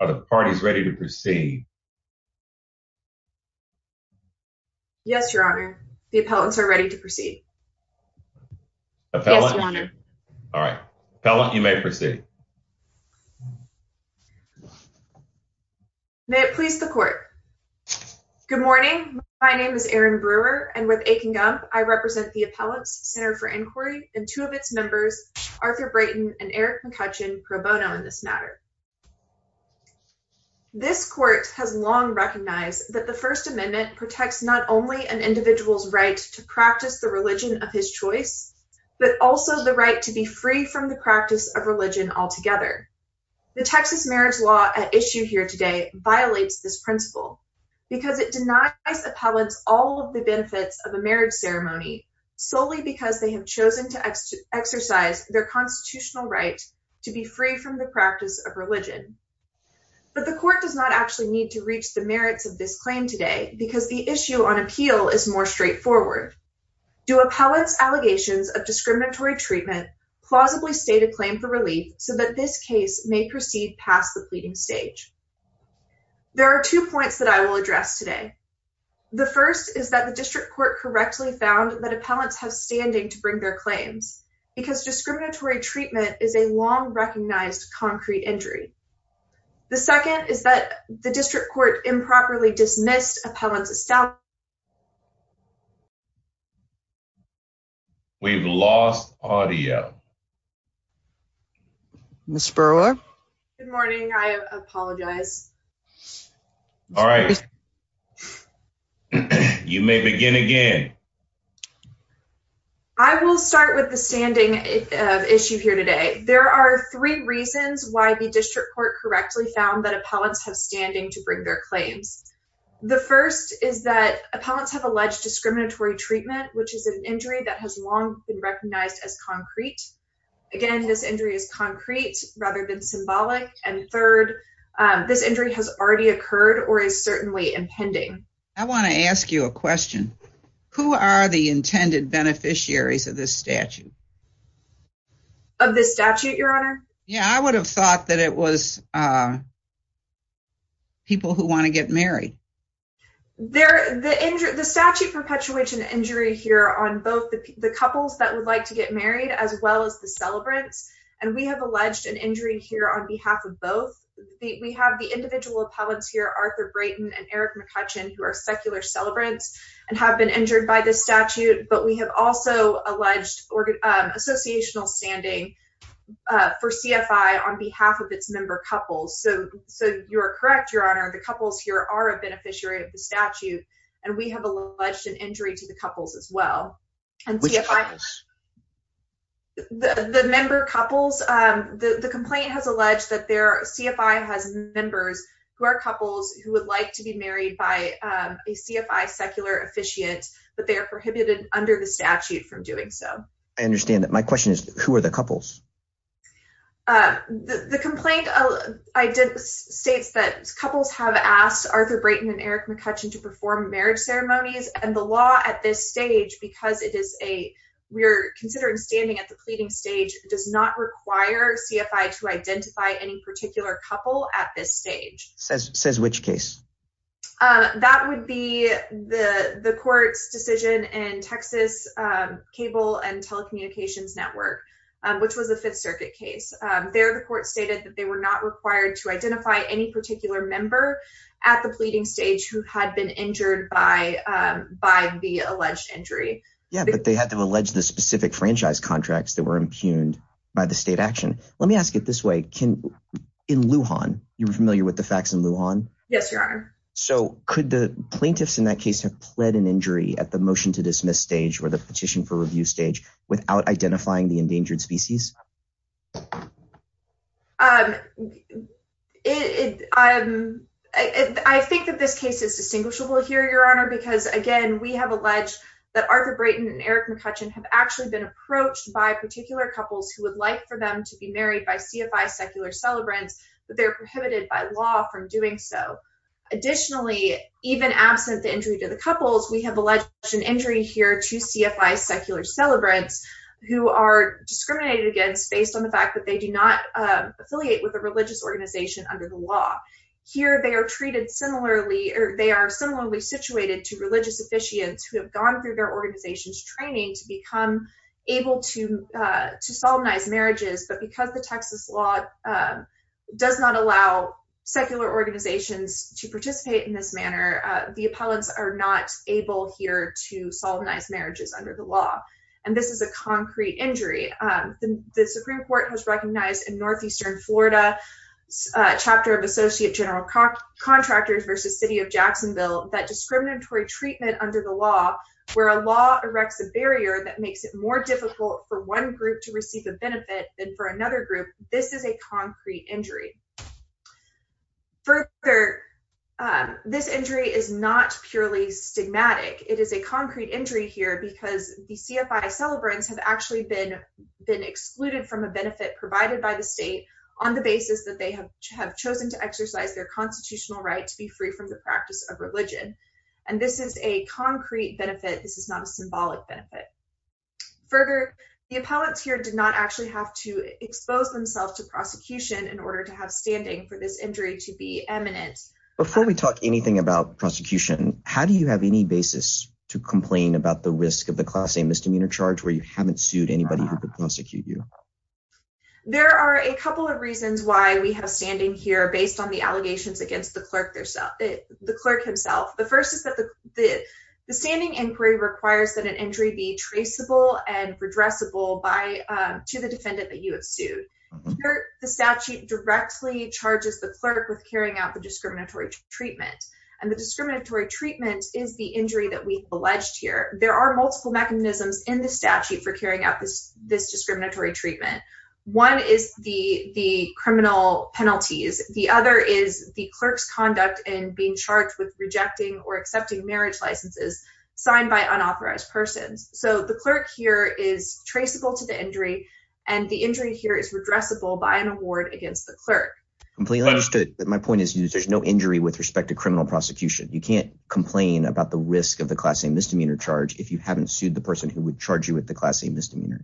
Are the parties ready to proceed? Yes, Your Honor. The appellants are ready to proceed. Yes, Your Honor. All right. Appellant, you may proceed. May it please the Court. Good morning. My name is Erin Brewer, and with Akin Gump, I represent the Appellants Center for Inquiry and two of its members, Arthur Brayton and Eric McCutcheon, pro bono in this matter. This Court has long recognized that the First Amendment protects not only an individual's right to practice the religion of his choice, but also the right to be free from the practice of religion altogether. The Texas marriage law at issue here today violates this principle because it denies appellants all of the benefits of a marriage ceremony solely because they have chosen to exercise their constitutional right to be free from the practice of religion. But the Court does not actually need to reach the merits of this claim today because the issue on appeal is more straightforward. Do appellants' allegations of discriminatory treatment plausibly state a claim for relief so that this case may proceed past the pleading stage? There are two points that I will address today. The first is that the district court correctly found that appellants have standing to bring their claims because discriminatory treatment is a long-recognized concrete injury. The second is that the district court improperly dismissed appellants' establishment. We've lost audio. Ms. Berla? Good morning. I apologize. All right. You may begin again. I will start with the standing issue here today. There are three reasons why the district court correctly found that appellants have standing to bring their claims. The first is that appellants have alleged discriminatory treatment, which is an injury that has long been recognized as concrete. Again, this injury is concrete rather than symbolic. And third, this injury has already occurred or is certainly impending. I want to ask you a question. Who are the intended beneficiaries of this statute? Of this statute, Your Honor? Yeah, I would have thought that it was people who want to get married. The statute perpetuates an injury here on both the couples that would like to get married as well as the celebrants. And we have alleged an injury here on behalf of both. We have the individual appellants here, Arthur Brayton and Eric McCutcheon, who are secular celebrants and have been injured by this statute. But we have also alleged associational standing for CFI on behalf of its member couples. So you are correct, Your Honor. The couples here are a beneficiary of the statute, and we have alleged an injury to the couples as well. Which couples? The member couples. The complaint has alleged that CFI has members who are couples who would like to be married by a CFI secular officiant, but they are prohibited under the statute from doing so. I understand that. My question is, who are the couples? The complaint states that couples have asked Arthur Brayton and Eric McCutcheon to perform marriage ceremonies. And the law at this stage, because we are considering standing at the pleading stage, does not require CFI to identify any particular couple at this stage. Says which case? That would be the court's decision in Texas Cable and Telecommunications Network, which was a Fifth Circuit case. There, the court stated that they were not required to identify any particular member at the pleading stage who had been injured by the alleged injury. Yeah, but they had to allege the specific franchise contracts that were impugned by the state action. Let me ask it this way. In Lujan, you're familiar with the facts in Lujan? Yes, Your Honor. So could the plaintiffs in that case have pled an injury at the motion to dismiss stage or the petition for review stage without identifying the endangered species? I think that this case is distinguishable here, Your Honor, because, again, we have alleged that Arthur Brayton and Eric McCutcheon have actually been approached by particular couples who would like for them to be married by CFI secular celebrants, but they're prohibited by law from doing so. Additionally, even absent the injury to the couples, we have alleged an injury here to CFI secular celebrants who are discriminated against based on the fact that they do not affiliate with a religious organization under the law. Here they are treated similarly, or they are similarly situated to religious officiants who have gone through their organization's training to become able to solemnize marriages, but because the Texas law does not allow secular organizations to participate in this manner, the appellants are not able here to solemnize marriages under the law. And this is a concrete injury. The Supreme Court has recognized in Northeastern Florida, Chapter of Associate General Contractors v. City of Jacksonville, that discriminatory treatment under the law, where a law erects a barrier that makes it more difficult for one group to receive a benefit than for another group, this is a concrete injury. Further, this injury is not purely stigmatic. It is a concrete injury here because the CFI celebrants have actually been excluded from a benefit provided by the state on the basis that they have chosen to exercise their constitutional right to be free from the practice of religion. And this is a concrete benefit. This is not a symbolic benefit. Further, the appellants here did not actually have to expose themselves to prosecution in order to have standing for this injury to be eminent. Before we talk anything about prosecution, how do you have any basis to complain about the risk of the Class A misdemeanor charge where you haven't sued anybody who could prosecute you? There are a couple of reasons why we have standing here based on the allegations against the clerk himself. The first is that the standing inquiry requires that an injury be traceable and redressable to the defendant that you have sued. The statute directly charges the clerk with carrying out the discriminatory treatment. And the discriminatory treatment is the injury that we've alleged here. There are multiple mechanisms in the statute for carrying out this discriminatory treatment. One is the criminal penalties. The other is the clerk's conduct in being charged with rejecting or accepting marriage licenses signed by unauthorized persons. So the clerk here is traceable to the injury, and the injury here is redressable by an award against the clerk. Completely understood. My point is there's no injury with respect to criminal prosecution. You can't complain about the risk of the Class A misdemeanor charge if you haven't sued the person who would charge you with the Class A misdemeanor.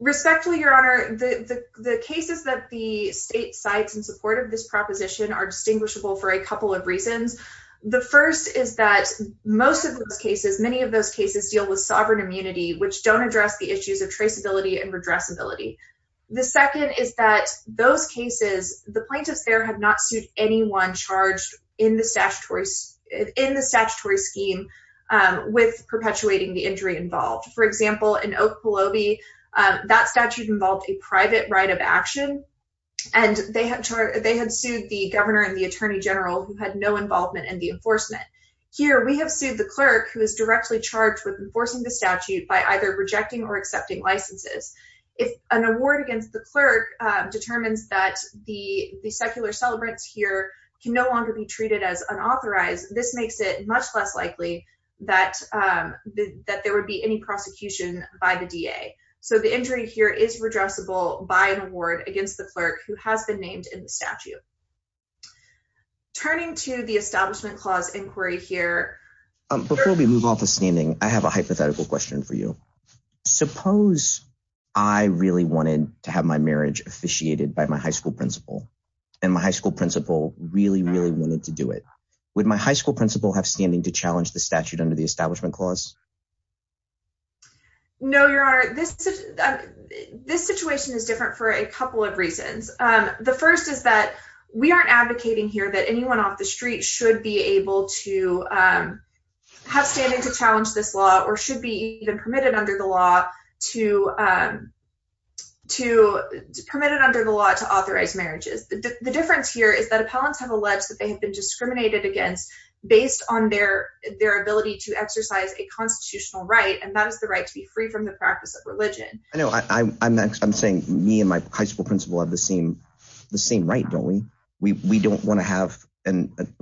Respectfully, Your Honor, the cases that the state cites in support of this proposition are distinguishable for a couple of reasons. The first is that most of those cases, many of those cases deal with sovereign immunity, which don't address the issues of traceability and redressability. The second is that those cases, the plaintiffs there have not sued anyone charged in the statutory scheme with perpetuating the injury involved. For example, in Okepelobee, that statute involved a private right of action, and they had sued the governor and the attorney general who had no involvement in the enforcement. Here, we have sued the clerk who is directly charged with enforcing the statute by either rejecting or accepting licenses. If an award against the clerk determines that the secular celebrants here can no longer be treated as unauthorized, this makes it much less likely that there would be any prosecution by the DA. So the injury here is redressable by an award against the clerk who has been named in the statute. Turning to the Establishment Clause inquiry here. Before we move on to standing, I have a hypothetical question for you. Suppose I really wanted to have my marriage officiated by my high school principal and my high school principal really, really wanted to do it. Would my high school principal have standing to challenge the statute under the Establishment Clause? No, Your Honor, this situation is different for a couple of reasons. The first is that we aren't advocating here that anyone off the street should be able to have standing to challenge this law or should be even permitted under the law to authorize marriages. The difference here is that appellants have alleged that they have been discriminated against based on their ability to exercise a constitutional right, and that is the right to be free from the practice of religion. I'm saying me and my high school principal have the same right, don't we? We don't want to have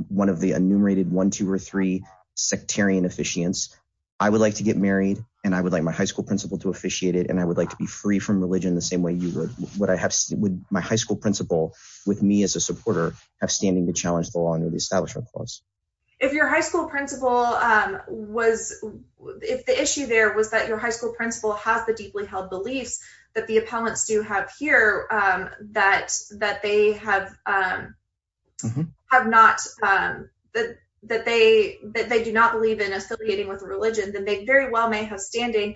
one of the enumerated one, two, or three sectarian officiants. I would like to get married, and I would like my high school principal to officiate it, and I would like to be free from religion the same way you would. Would my high school principal, with me as a supporter, have standing to challenge the law under the Establishment Clause? If the issue there was that your high school principal has the deeply held beliefs that the appellants do have here, that they do not believe in affiliating with a religion, then they very well may have standing.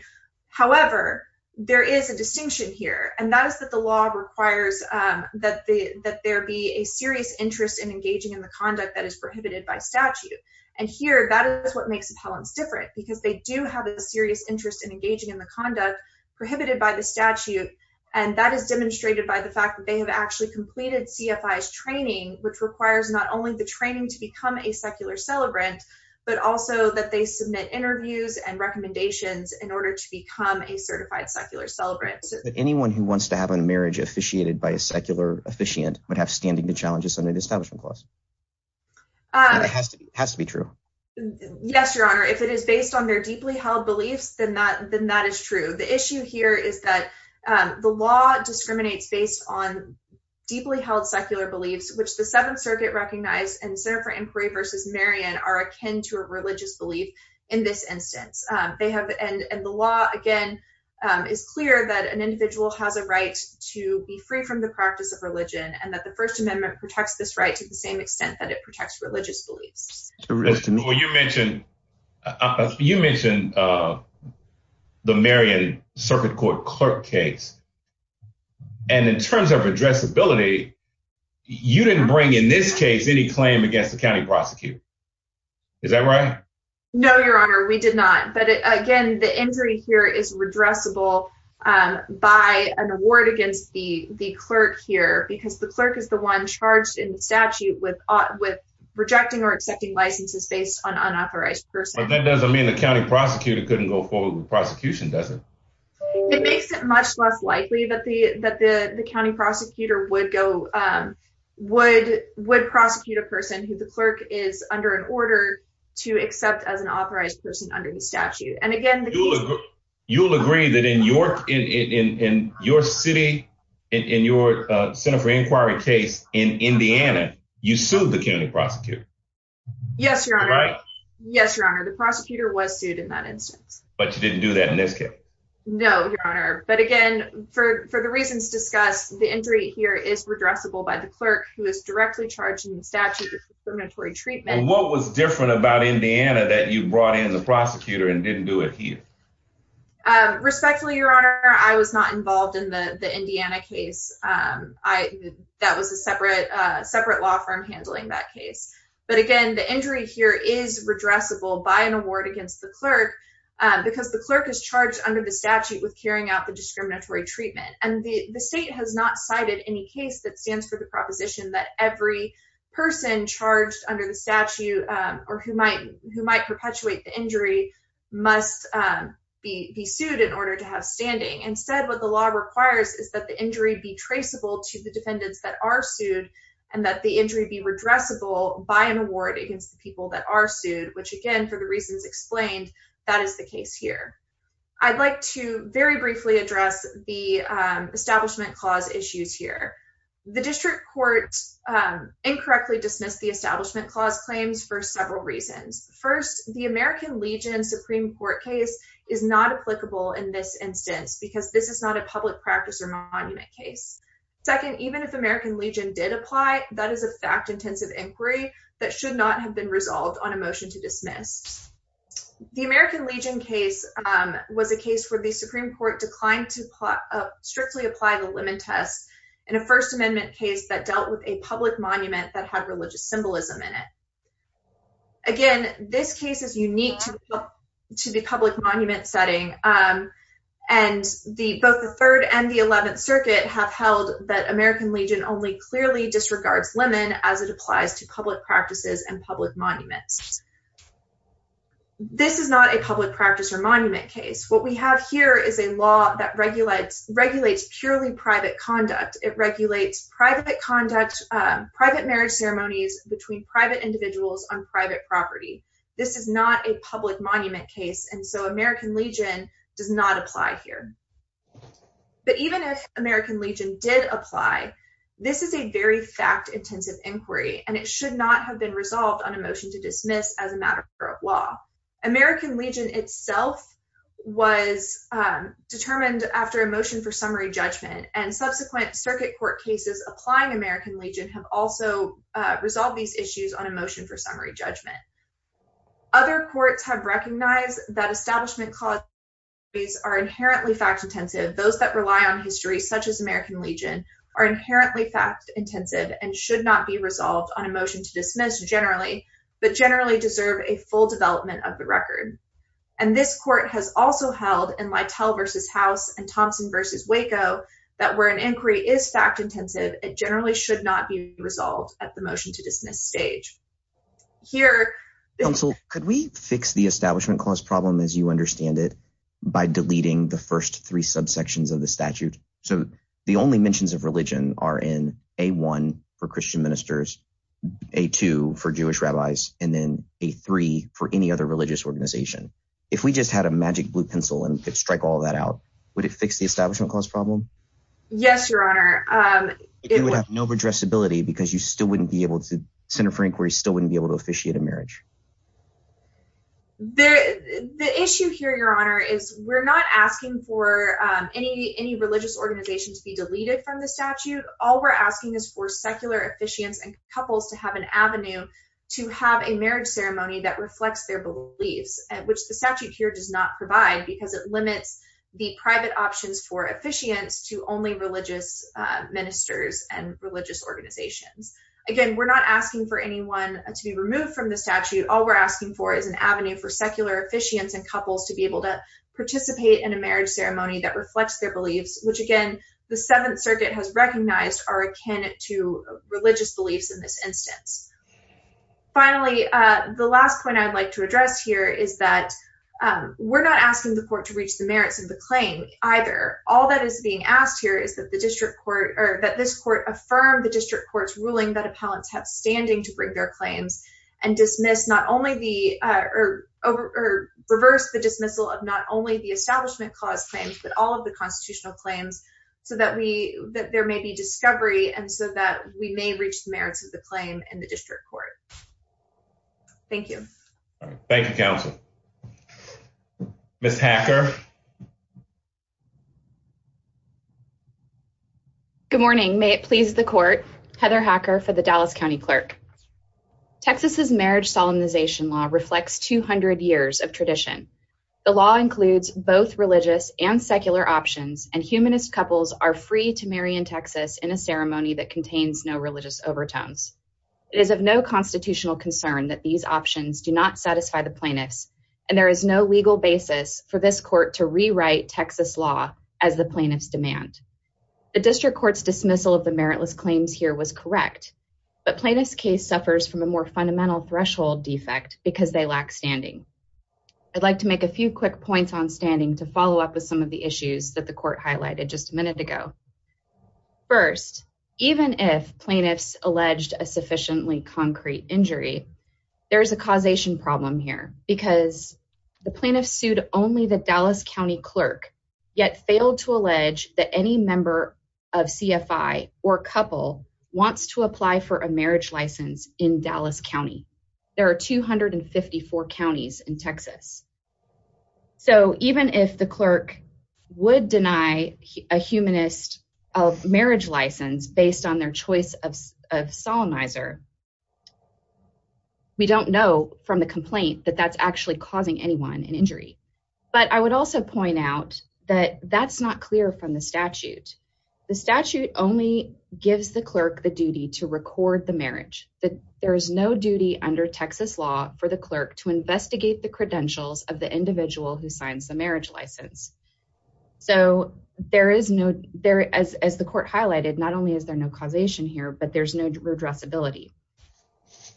However, there is a distinction here, and that is that the law requires that there be a serious interest in engaging in the conduct that is prohibited by statute. Here, that is what makes appellants different, because they do have a serious interest in engaging in the conduct prohibited by the statute, and that is demonstrated by the fact that they have actually completed CFI's training, which requires not only the training to become a secular celebrant, but also that they submit interviews and recommendations in order to become a certified secular celebrant. Anyone who wants to have a marriage officiated by a secular officiant would have standing to challenge this under the Establishment Clause. It has to be true. Yes, Your Honor. If it is based on their deeply held beliefs, then that is true. The issue here is that the law discriminates based on deeply held secular beliefs, which the Seventh Circuit recognized and the Center for Inquiry v. Marion are akin to a religious belief in this instance. The law, again, is clear that an individual has a right to be free from the practice of religion, and that the First Amendment protects this right to the same extent that it protects religious beliefs. Well, you mentioned the Marion Circuit Court clerk case, and in terms of addressability, you didn't bring in this case any claim against the county prosecutor. Is that right? No, Your Honor, we did not. But again, the injury here is redressable by an award against the clerk here, because the clerk is the one charged in the statute with rejecting or accepting licenses based on unauthorized persons. But that doesn't mean the county prosecutor couldn't go forward with prosecution, does it? It makes it much less likely that the county prosecutor would prosecute a person who the clerk is under an order to accept as an authorized person under the statute. You'll agree that in your city, in your Center for Inquiry case in Indiana, you sued the county prosecutor? Yes, Your Honor. The prosecutor was sued in that instance. But you didn't do that in this case? No, Your Honor. But again, for the reasons discussed, the injury here is redressable by the clerk who is directly charged in the statute with discriminatory treatment. And what was different about Indiana that you brought in the prosecutor and didn't do it here? Respectfully, Your Honor, I was not involved in the Indiana case. That was a separate law firm handling that case. But again, the injury here is redressable by an award against the clerk, because the clerk is charged under the statute with carrying out the discriminatory treatment. And the state has not cited any case that stands for the proposition that every person charged under the statute or who might perpetuate the injury must be sued in order to have standing. Instead, what the law requires is that the injury be traceable to the defendants that are sued and that the injury be redressable by an award against the people that are sued, which again, for the reasons explained, that is the case here. I'd like to very briefly address the Establishment Clause issues here. The District Court incorrectly dismissed the Establishment Clause claims for several reasons. First, the American Legion Supreme Court case is not applicable in this instance, because this is not a public practice or monument case. Second, even if American Legion did apply, that is a fact-intensive inquiry that should not have been resolved on a motion to dismiss. The American Legion case was a case where the Supreme Court declined to strictly apply the Lemon Test in a First Amendment case that dealt with a public monument that had religious symbolism in it. Again, this case is unique to the public monument setting, and both the Third and the Eleventh Circuit have held that American Legion only clearly disregards lemon as it applies to public practices and public monuments. This is not a public practice or monument case. What we have here is a law that regulates purely private conduct. It regulates private conduct, private marriage ceremonies between private individuals on private property. This is not a public monument case, and so American Legion does not apply here. But even if American Legion did apply, this is a very fact-intensive inquiry, and it should not have been resolved on a motion to dismiss as a matter of law. American Legion itself was determined after a motion for summary judgment, and subsequent Circuit Court cases applying American Legion have also resolved these issues on a motion for summary judgment. Other courts have recognized that establishment causes are inherently fact-intensive. Those that rely on history, such as American Legion, are inherently fact-intensive and should not be resolved on a motion to dismiss generally, but generally deserve a full development of the record. And this court has also held in Lytle v. House and Thompson v. Waco that where an inquiry is fact-intensive, it generally should not be resolved at the motion-to-dismiss stage. Here… Counsel, could we fix the establishment cause problem as you understand it by deleting the first three subsections of the statute? So the only mentions of religion are in A1 for Christian ministers, A2 for Jewish rabbis, and then A3 for any other religious organization. If we just had a magic blue pencil and could strike all that out, would it fix the establishment cause problem? Yes, Your Honor. It would have no addressability because you still wouldn't be able to – the Center for Inquiry still wouldn't be able to officiate a marriage. The issue here, Your Honor, is we're not asking for any religious organization to be deleted from the statute. All we're asking is for secular officiants and couples to have an avenue to have a marriage ceremony that reflects their beliefs, which the statute here does not provide because it limits the private options for officiants to only religious ministers and religious organizations. Again, we're not asking for anyone to be removed from the statute. All we're asking for is an avenue for secular officiants and couples to be able to participate in a marriage ceremony that reflects their beliefs, which, again, the Seventh Circuit has recognized are akin to religious beliefs in this instance. Finally, the last point I'd like to address here is that we're not asking the court to reach the merits of the claim either. All that is being asked here is that the district court – or that this court affirm the district court's ruling that appellants have standing to bring their claims and dismiss not only the – or reverse the dismissal of not only the Establishment Clause claims but all of the constitutional claims so that we – that there may be discovery and so that we may reach the merits of the claim in the district court. Thank you. Thank you, counsel. Ms. Hacker? Good morning. May it please the court, Heather Hacker for the Dallas County Clerk. Texas' marriage solemnization law reflects 200 years of tradition. The law includes both religious and secular options, and humanist couples are free to marry in Texas in a ceremony that contains no religious overtones. It is of no constitutional concern that these options do not satisfy the plaintiffs, and there is no legal basis for this court to rewrite Texas law as the plaintiffs demand. The district court's dismissal of the meritless claims here was correct, but plaintiffs' case suffers from a more fundamental threshold defect because they lack standing. I'd like to make a few quick points on standing to follow up with some of the issues that the court highlighted just a minute ago. First, even if plaintiffs alleged a sufficiently concrete injury, there is a causation problem here because the plaintiffs sued only the Dallas County Clerk, yet failed to allege that any member of CFI or couple wants to apply for a marriage license in Dallas County. There are 254 counties in Texas. So even if the clerk would deny a humanist a marriage license based on their choice of solemnizer, we don't know from the complaint that that's actually causing anyone an injury. But I would also point out that that's not clear from the statute. The statute only gives the clerk the duty to record the marriage. There is no duty under Texas law for the clerk to investigate the credentials of the individual who signs the marriage license. So there is no, as the court highlighted, not only is there no causation here, but there's no redressability.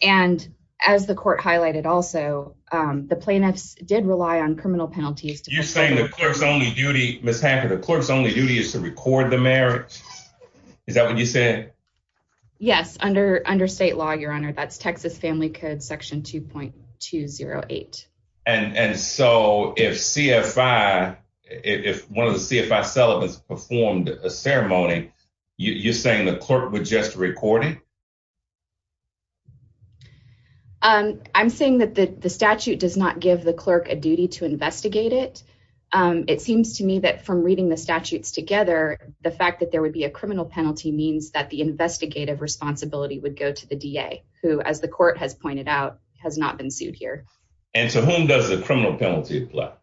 And as the court highlighted also, the plaintiffs did rely on criminal penalties. You're saying the clerk's only duty, Ms. Hacker, the clerk's only duty is to record the marriage? Is that what you said? Yes, under state law, Your Honor. That's Texas Family Code Section 2.208. And so if CFI, if one of the CFI celibates performed a ceremony, you're saying the clerk would just record it? I'm saying that the statute does not give the clerk a duty to investigate it. It seems to me that from reading the statutes together, the fact that there would be a criminal penalty means that the investigative responsibility would go to the DA, who, as the court has pointed out, has not been sued here. And to whom does the criminal penalty apply?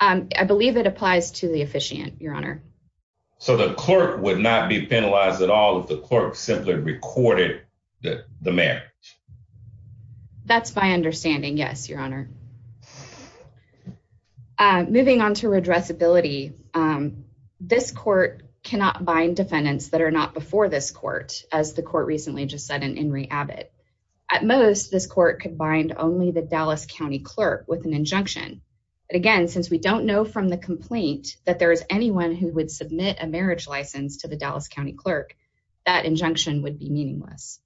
I believe it applies to the officiant, Your Honor. So the clerk would not be penalized at all if the clerk simply recorded the marriage? That's my understanding, yes, Your Honor. Moving on to redressability, this court cannot bind defendants that are not before this court, as the court recently just said in Henry Abbott. At most, this court could bind only the Dallas County clerk with an injunction. But again, since we don't know from the complaint that there is anyone who would submit a marriage license to the Dallas County clerk, that injunction would be meaningless.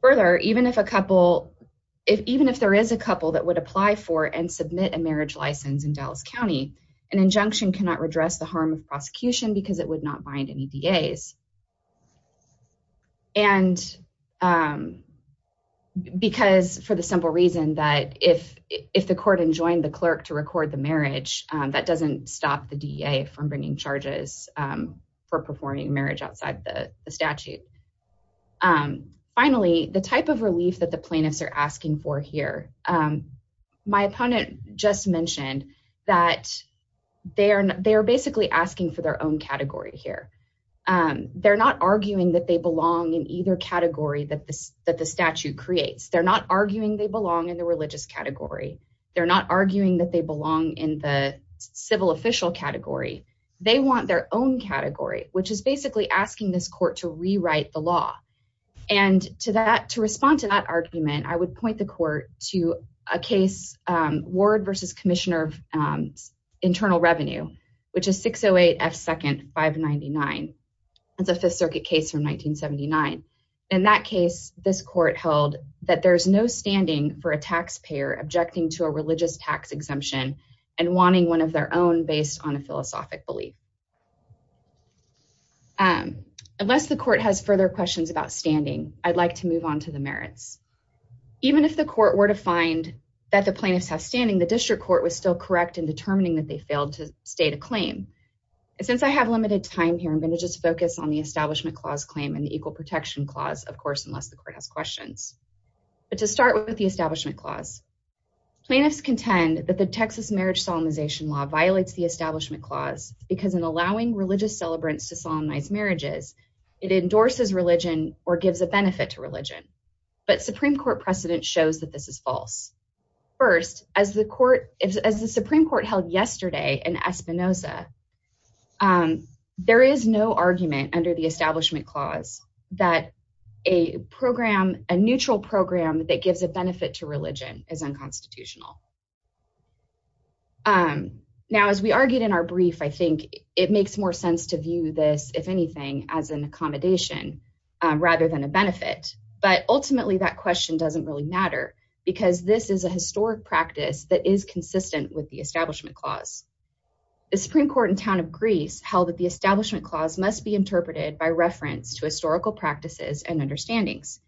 Further, even if there is a couple that would apply for and submit a marriage license in Dallas County, an injunction cannot redress the harm of prosecution because it would not bind any DAs. And because, for the simple reason that if the court enjoined the clerk to record the marriage, that doesn't stop the DA from bringing charges for performing marriage outside the statute. Finally, the type of relief that the plaintiffs are asking for here. My opponent just mentioned that they are basically asking for their own category here. They're not arguing that they belong in either category that the statute creates. They're not arguing they belong in the religious category. They're not arguing that they belong in the civil official category. They want their own category, which is basically asking this court to rewrite the law. And to respond to that argument, I would point the court to a case, Ward v. Commissioner of Internal Revenue, which is 608 F. 2nd. 599. It's a Fifth Circuit case from 1979. In that case, this court held that there's no standing for a taxpayer objecting to a religious tax exemption and wanting one of their own based on a philosophic belief. Unless the court has further questions about standing, I'd like to move on to the merits. Even if the court were to find that the plaintiffs have standing, the district court was still correct in determining that they failed to state a claim. Since I have limited time here, I'm going to just focus on the Establishment Clause claim and the Equal Protection Clause, of course, unless the court has questions. But to start with the Establishment Clause, plaintiffs contend that the Texas marriage solemnization law violates the Establishment Clause because in allowing religious celebrants to solemnize marriages, it endorses religion or gives a benefit to religion. But Supreme Court precedent shows that this is false. First, as the Supreme Court held yesterday in Espinoza, there is no argument under the Establishment Clause that a neutral program that gives a benefit to religion is unconstitutional. Now, as we argued in our brief, I think it makes more sense to view this, if anything, as an accommodation rather than a benefit. But ultimately, that question doesn't really matter because this is a historic practice that is consistent with the Establishment Clause. The Supreme Court in town of Greece held that the Establishment Clause must be interpreted by reference to historical practices and understandings.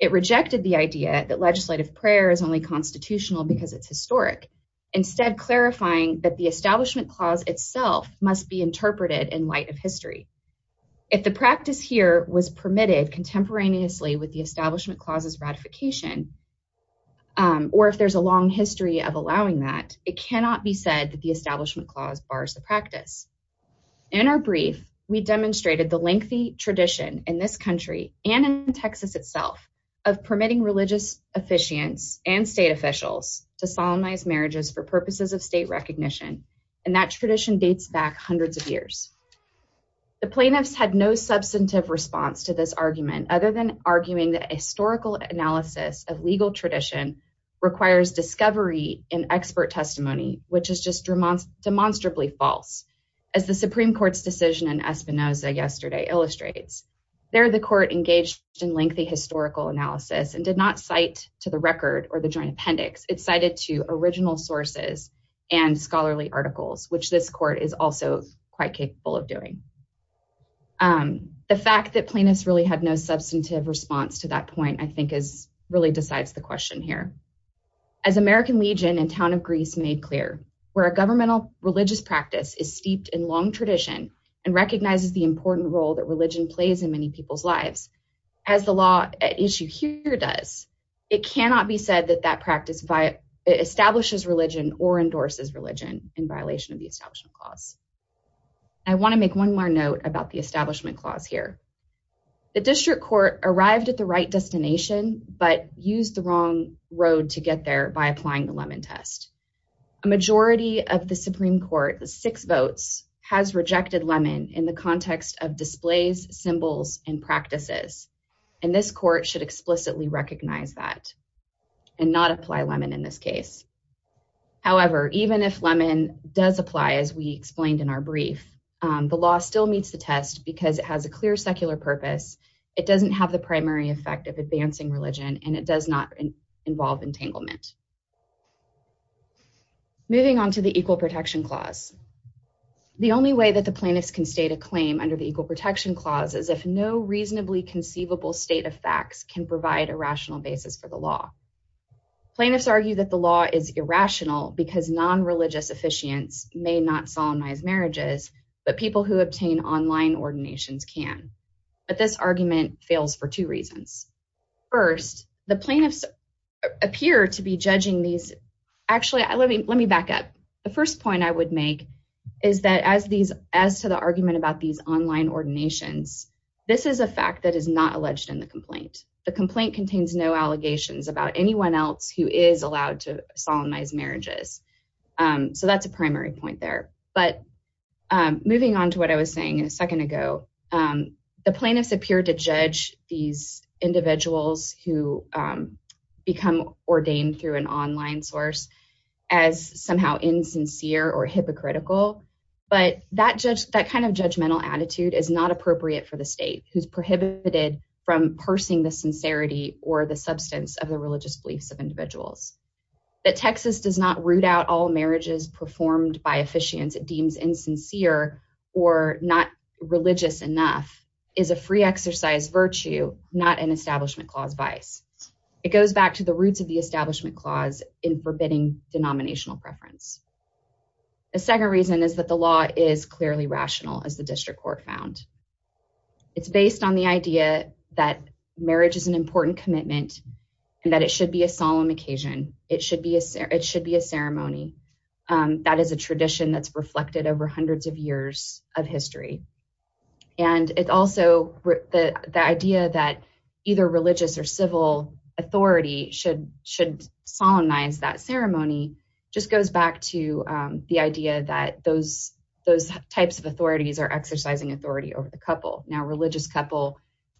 It rejected the idea that legislative prayer is only constitutional because it's historic, instead clarifying that the Establishment Clause itself must be interpreted in light of history. If the practice here was permitted contemporaneously with the Establishment Clause's ratification, or if there's a long history of allowing that, it cannot be said that the Establishment Clause bars the practice. In our brief, we demonstrated the lengthy tradition in this country and in Texas itself of permitting religious officiants and state officials to solemnize marriages for purposes of state recognition, and that tradition dates back hundreds of years. The plaintiffs had no substantive response to this argument, other than arguing that historical analysis of legal tradition requires discovery in expert testimony, which is just demonstrably false. As the Supreme Court's decision in Espinoza yesterday illustrates. There, the court engaged in lengthy historical analysis and did not cite to the record or the joint appendix. It cited to original sources and scholarly articles, which this court is also quite capable of doing. The fact that plaintiffs really had no substantive response to that point, I think, really decides the question here. As American Legion and Town of Greece made clear, where a governmental religious practice is steeped in long tradition and recognizes the important role that religion plays in many people's lives, as the law issue here does, it cannot be said that that practice establishes religion or endorses religion in violation of the Establishment Clause. I want to make one more note about the Establishment Clause here. The District Court arrived at the right destination, but used the wrong road to get there by applying the Lemon Test. A majority of the Supreme Court, six votes, has rejected lemon in the context of displays, symbols, and practices, and this court should explicitly recognize that and not apply lemon in this case. However, even if lemon does apply, as we explained in our brief, the law still meets the test because it has a clear secular purpose, it doesn't have the primary effect of advancing religion, and it does not involve entanglement. Moving on to the Equal Protection Clause. The only way that the plaintiffs can state a claim under the Equal Protection Clause is if no reasonably conceivable state of facts can provide a rational basis for the law. Plaintiffs argue that the law is irrational because non-religious officiants may not solemnize marriages, but people who obtain online ordinations can. But this argument fails for two reasons. First, the plaintiffs appear to be judging these – actually, let me back up. The first point I would make is that as to the argument about these online ordinations, this is a fact that is not alleged in the complaint. The complaint contains no allegations about anyone else who is allowed to solemnize marriages. So that's a primary point there. But moving on to what I was saying a second ago, the plaintiffs appear to judge these individuals who become ordained through an online source as somehow insincere or hypocritical. But that kind of judgmental attitude is not appropriate for the state who's prohibited from parsing the sincerity or the substance of the religious beliefs of individuals. That Texas does not root out all marriages performed by officiants it deems insincere or not religious enough is a free exercise virtue, not an Establishment Clause vice. It goes back to the roots of the Establishment Clause in forbidding denominational preference. The second reason is that the law is clearly rational, as the district court found. It's based on the idea that marriage is an important commitment and that it should be a solemn occasion. It should be a ceremony. That is a tradition that's reflected over hundreds of years of history. And it's also the idea that either religious or civil authority should solemnize that ceremony just goes back to the idea that those types of authorities are exercising authority over the couple. Now a religious couple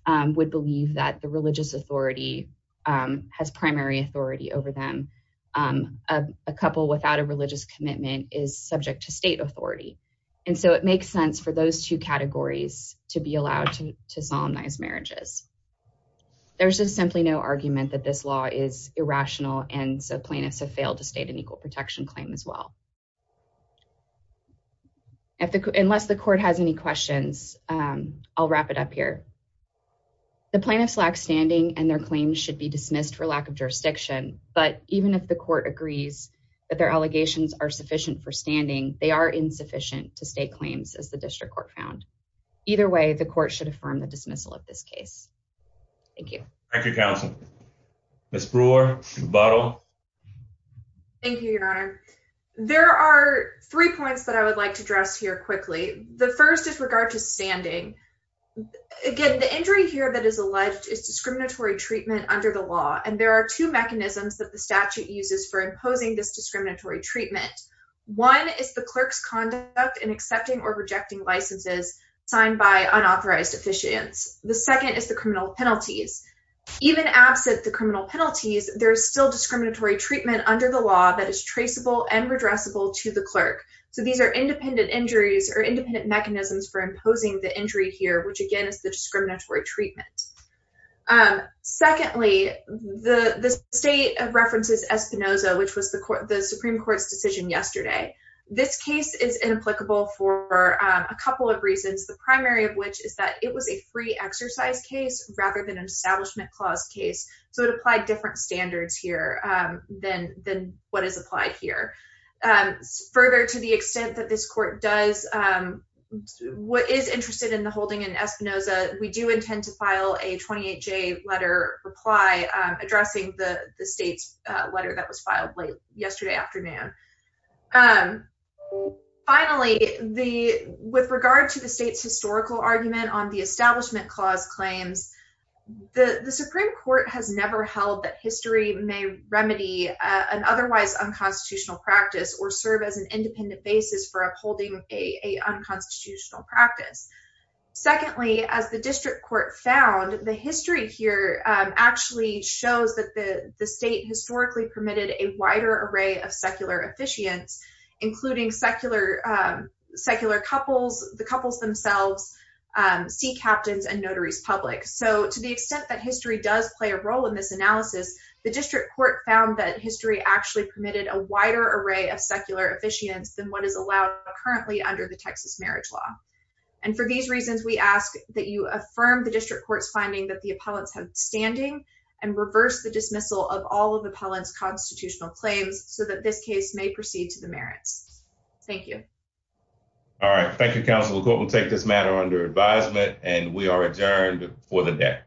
would believe that the religious authority has primary authority over them. A couple without a religious commitment is subject to state authority. And so it makes sense for those two categories to be allowed to solemnize marriages. There's just simply no argument that this law is irrational and so plaintiffs have failed to state an equal protection claim as well. Unless the court has any questions, I'll wrap it up here. The plaintiffs lack standing and their claims should be dismissed for lack of jurisdiction. But even if the court agrees that their allegations are sufficient for standing, they are insufficient to state claims as the district court found. Either way, the court should affirm the dismissal of this case. Thank you. Thank you, Counsel. Ms. Brewer. Thank you, Your Honor. There are three points that I would like to address here quickly. The first is regard to standing. Again, the injury here that is alleged is discriminatory treatment under the law. And there are two mechanisms that the statute uses for imposing this discriminatory treatment. One is the clerk's conduct in accepting or rejecting licenses signed by unauthorized officiants. The second is the criminal penalties. Even absent the criminal penalties, there is still discriminatory treatment under the law that is traceable and redressable to the clerk. So these are independent injuries or independent mechanisms for imposing the injury here, which again is the discriminatory treatment. Secondly, the state references Espinoza, which was the Supreme Court's decision yesterday. This case is inapplicable for a couple of reasons, the primary of which is that it was a free exercise case rather than an establishment clause case. So it applied different standards here than what is applied here. Further, to the extent that this court does, what is interested in the holding in Espinoza, we do intend to file a 28-J letter reply addressing the state's letter that was filed late yesterday afternoon. Finally, with regard to the state's historical argument on the establishment clause claims, the Supreme Court has never held that history may remedy an otherwise unconstitutional practice or serve as an independent basis for upholding a unconstitutional practice. Secondly, as the district court found, the history here actually shows that the state historically permitted a wider array of secular officiants, including secular couples, the couples themselves, sea captains, and notaries public. So to the extent that history does play a role in this analysis, the district court found that history actually permitted a wider array of secular officiants than what is allowed currently under the Texas marriage law. For these reasons, we ask that you affirm the district court's finding that the appellants have standing and reverse the dismissal of all of the appellant's constitutional claims so that this case may proceed to the merits. Thank you. All right. Thank you, Counsel. The court will take this matter under advisement and we are adjourned for the day.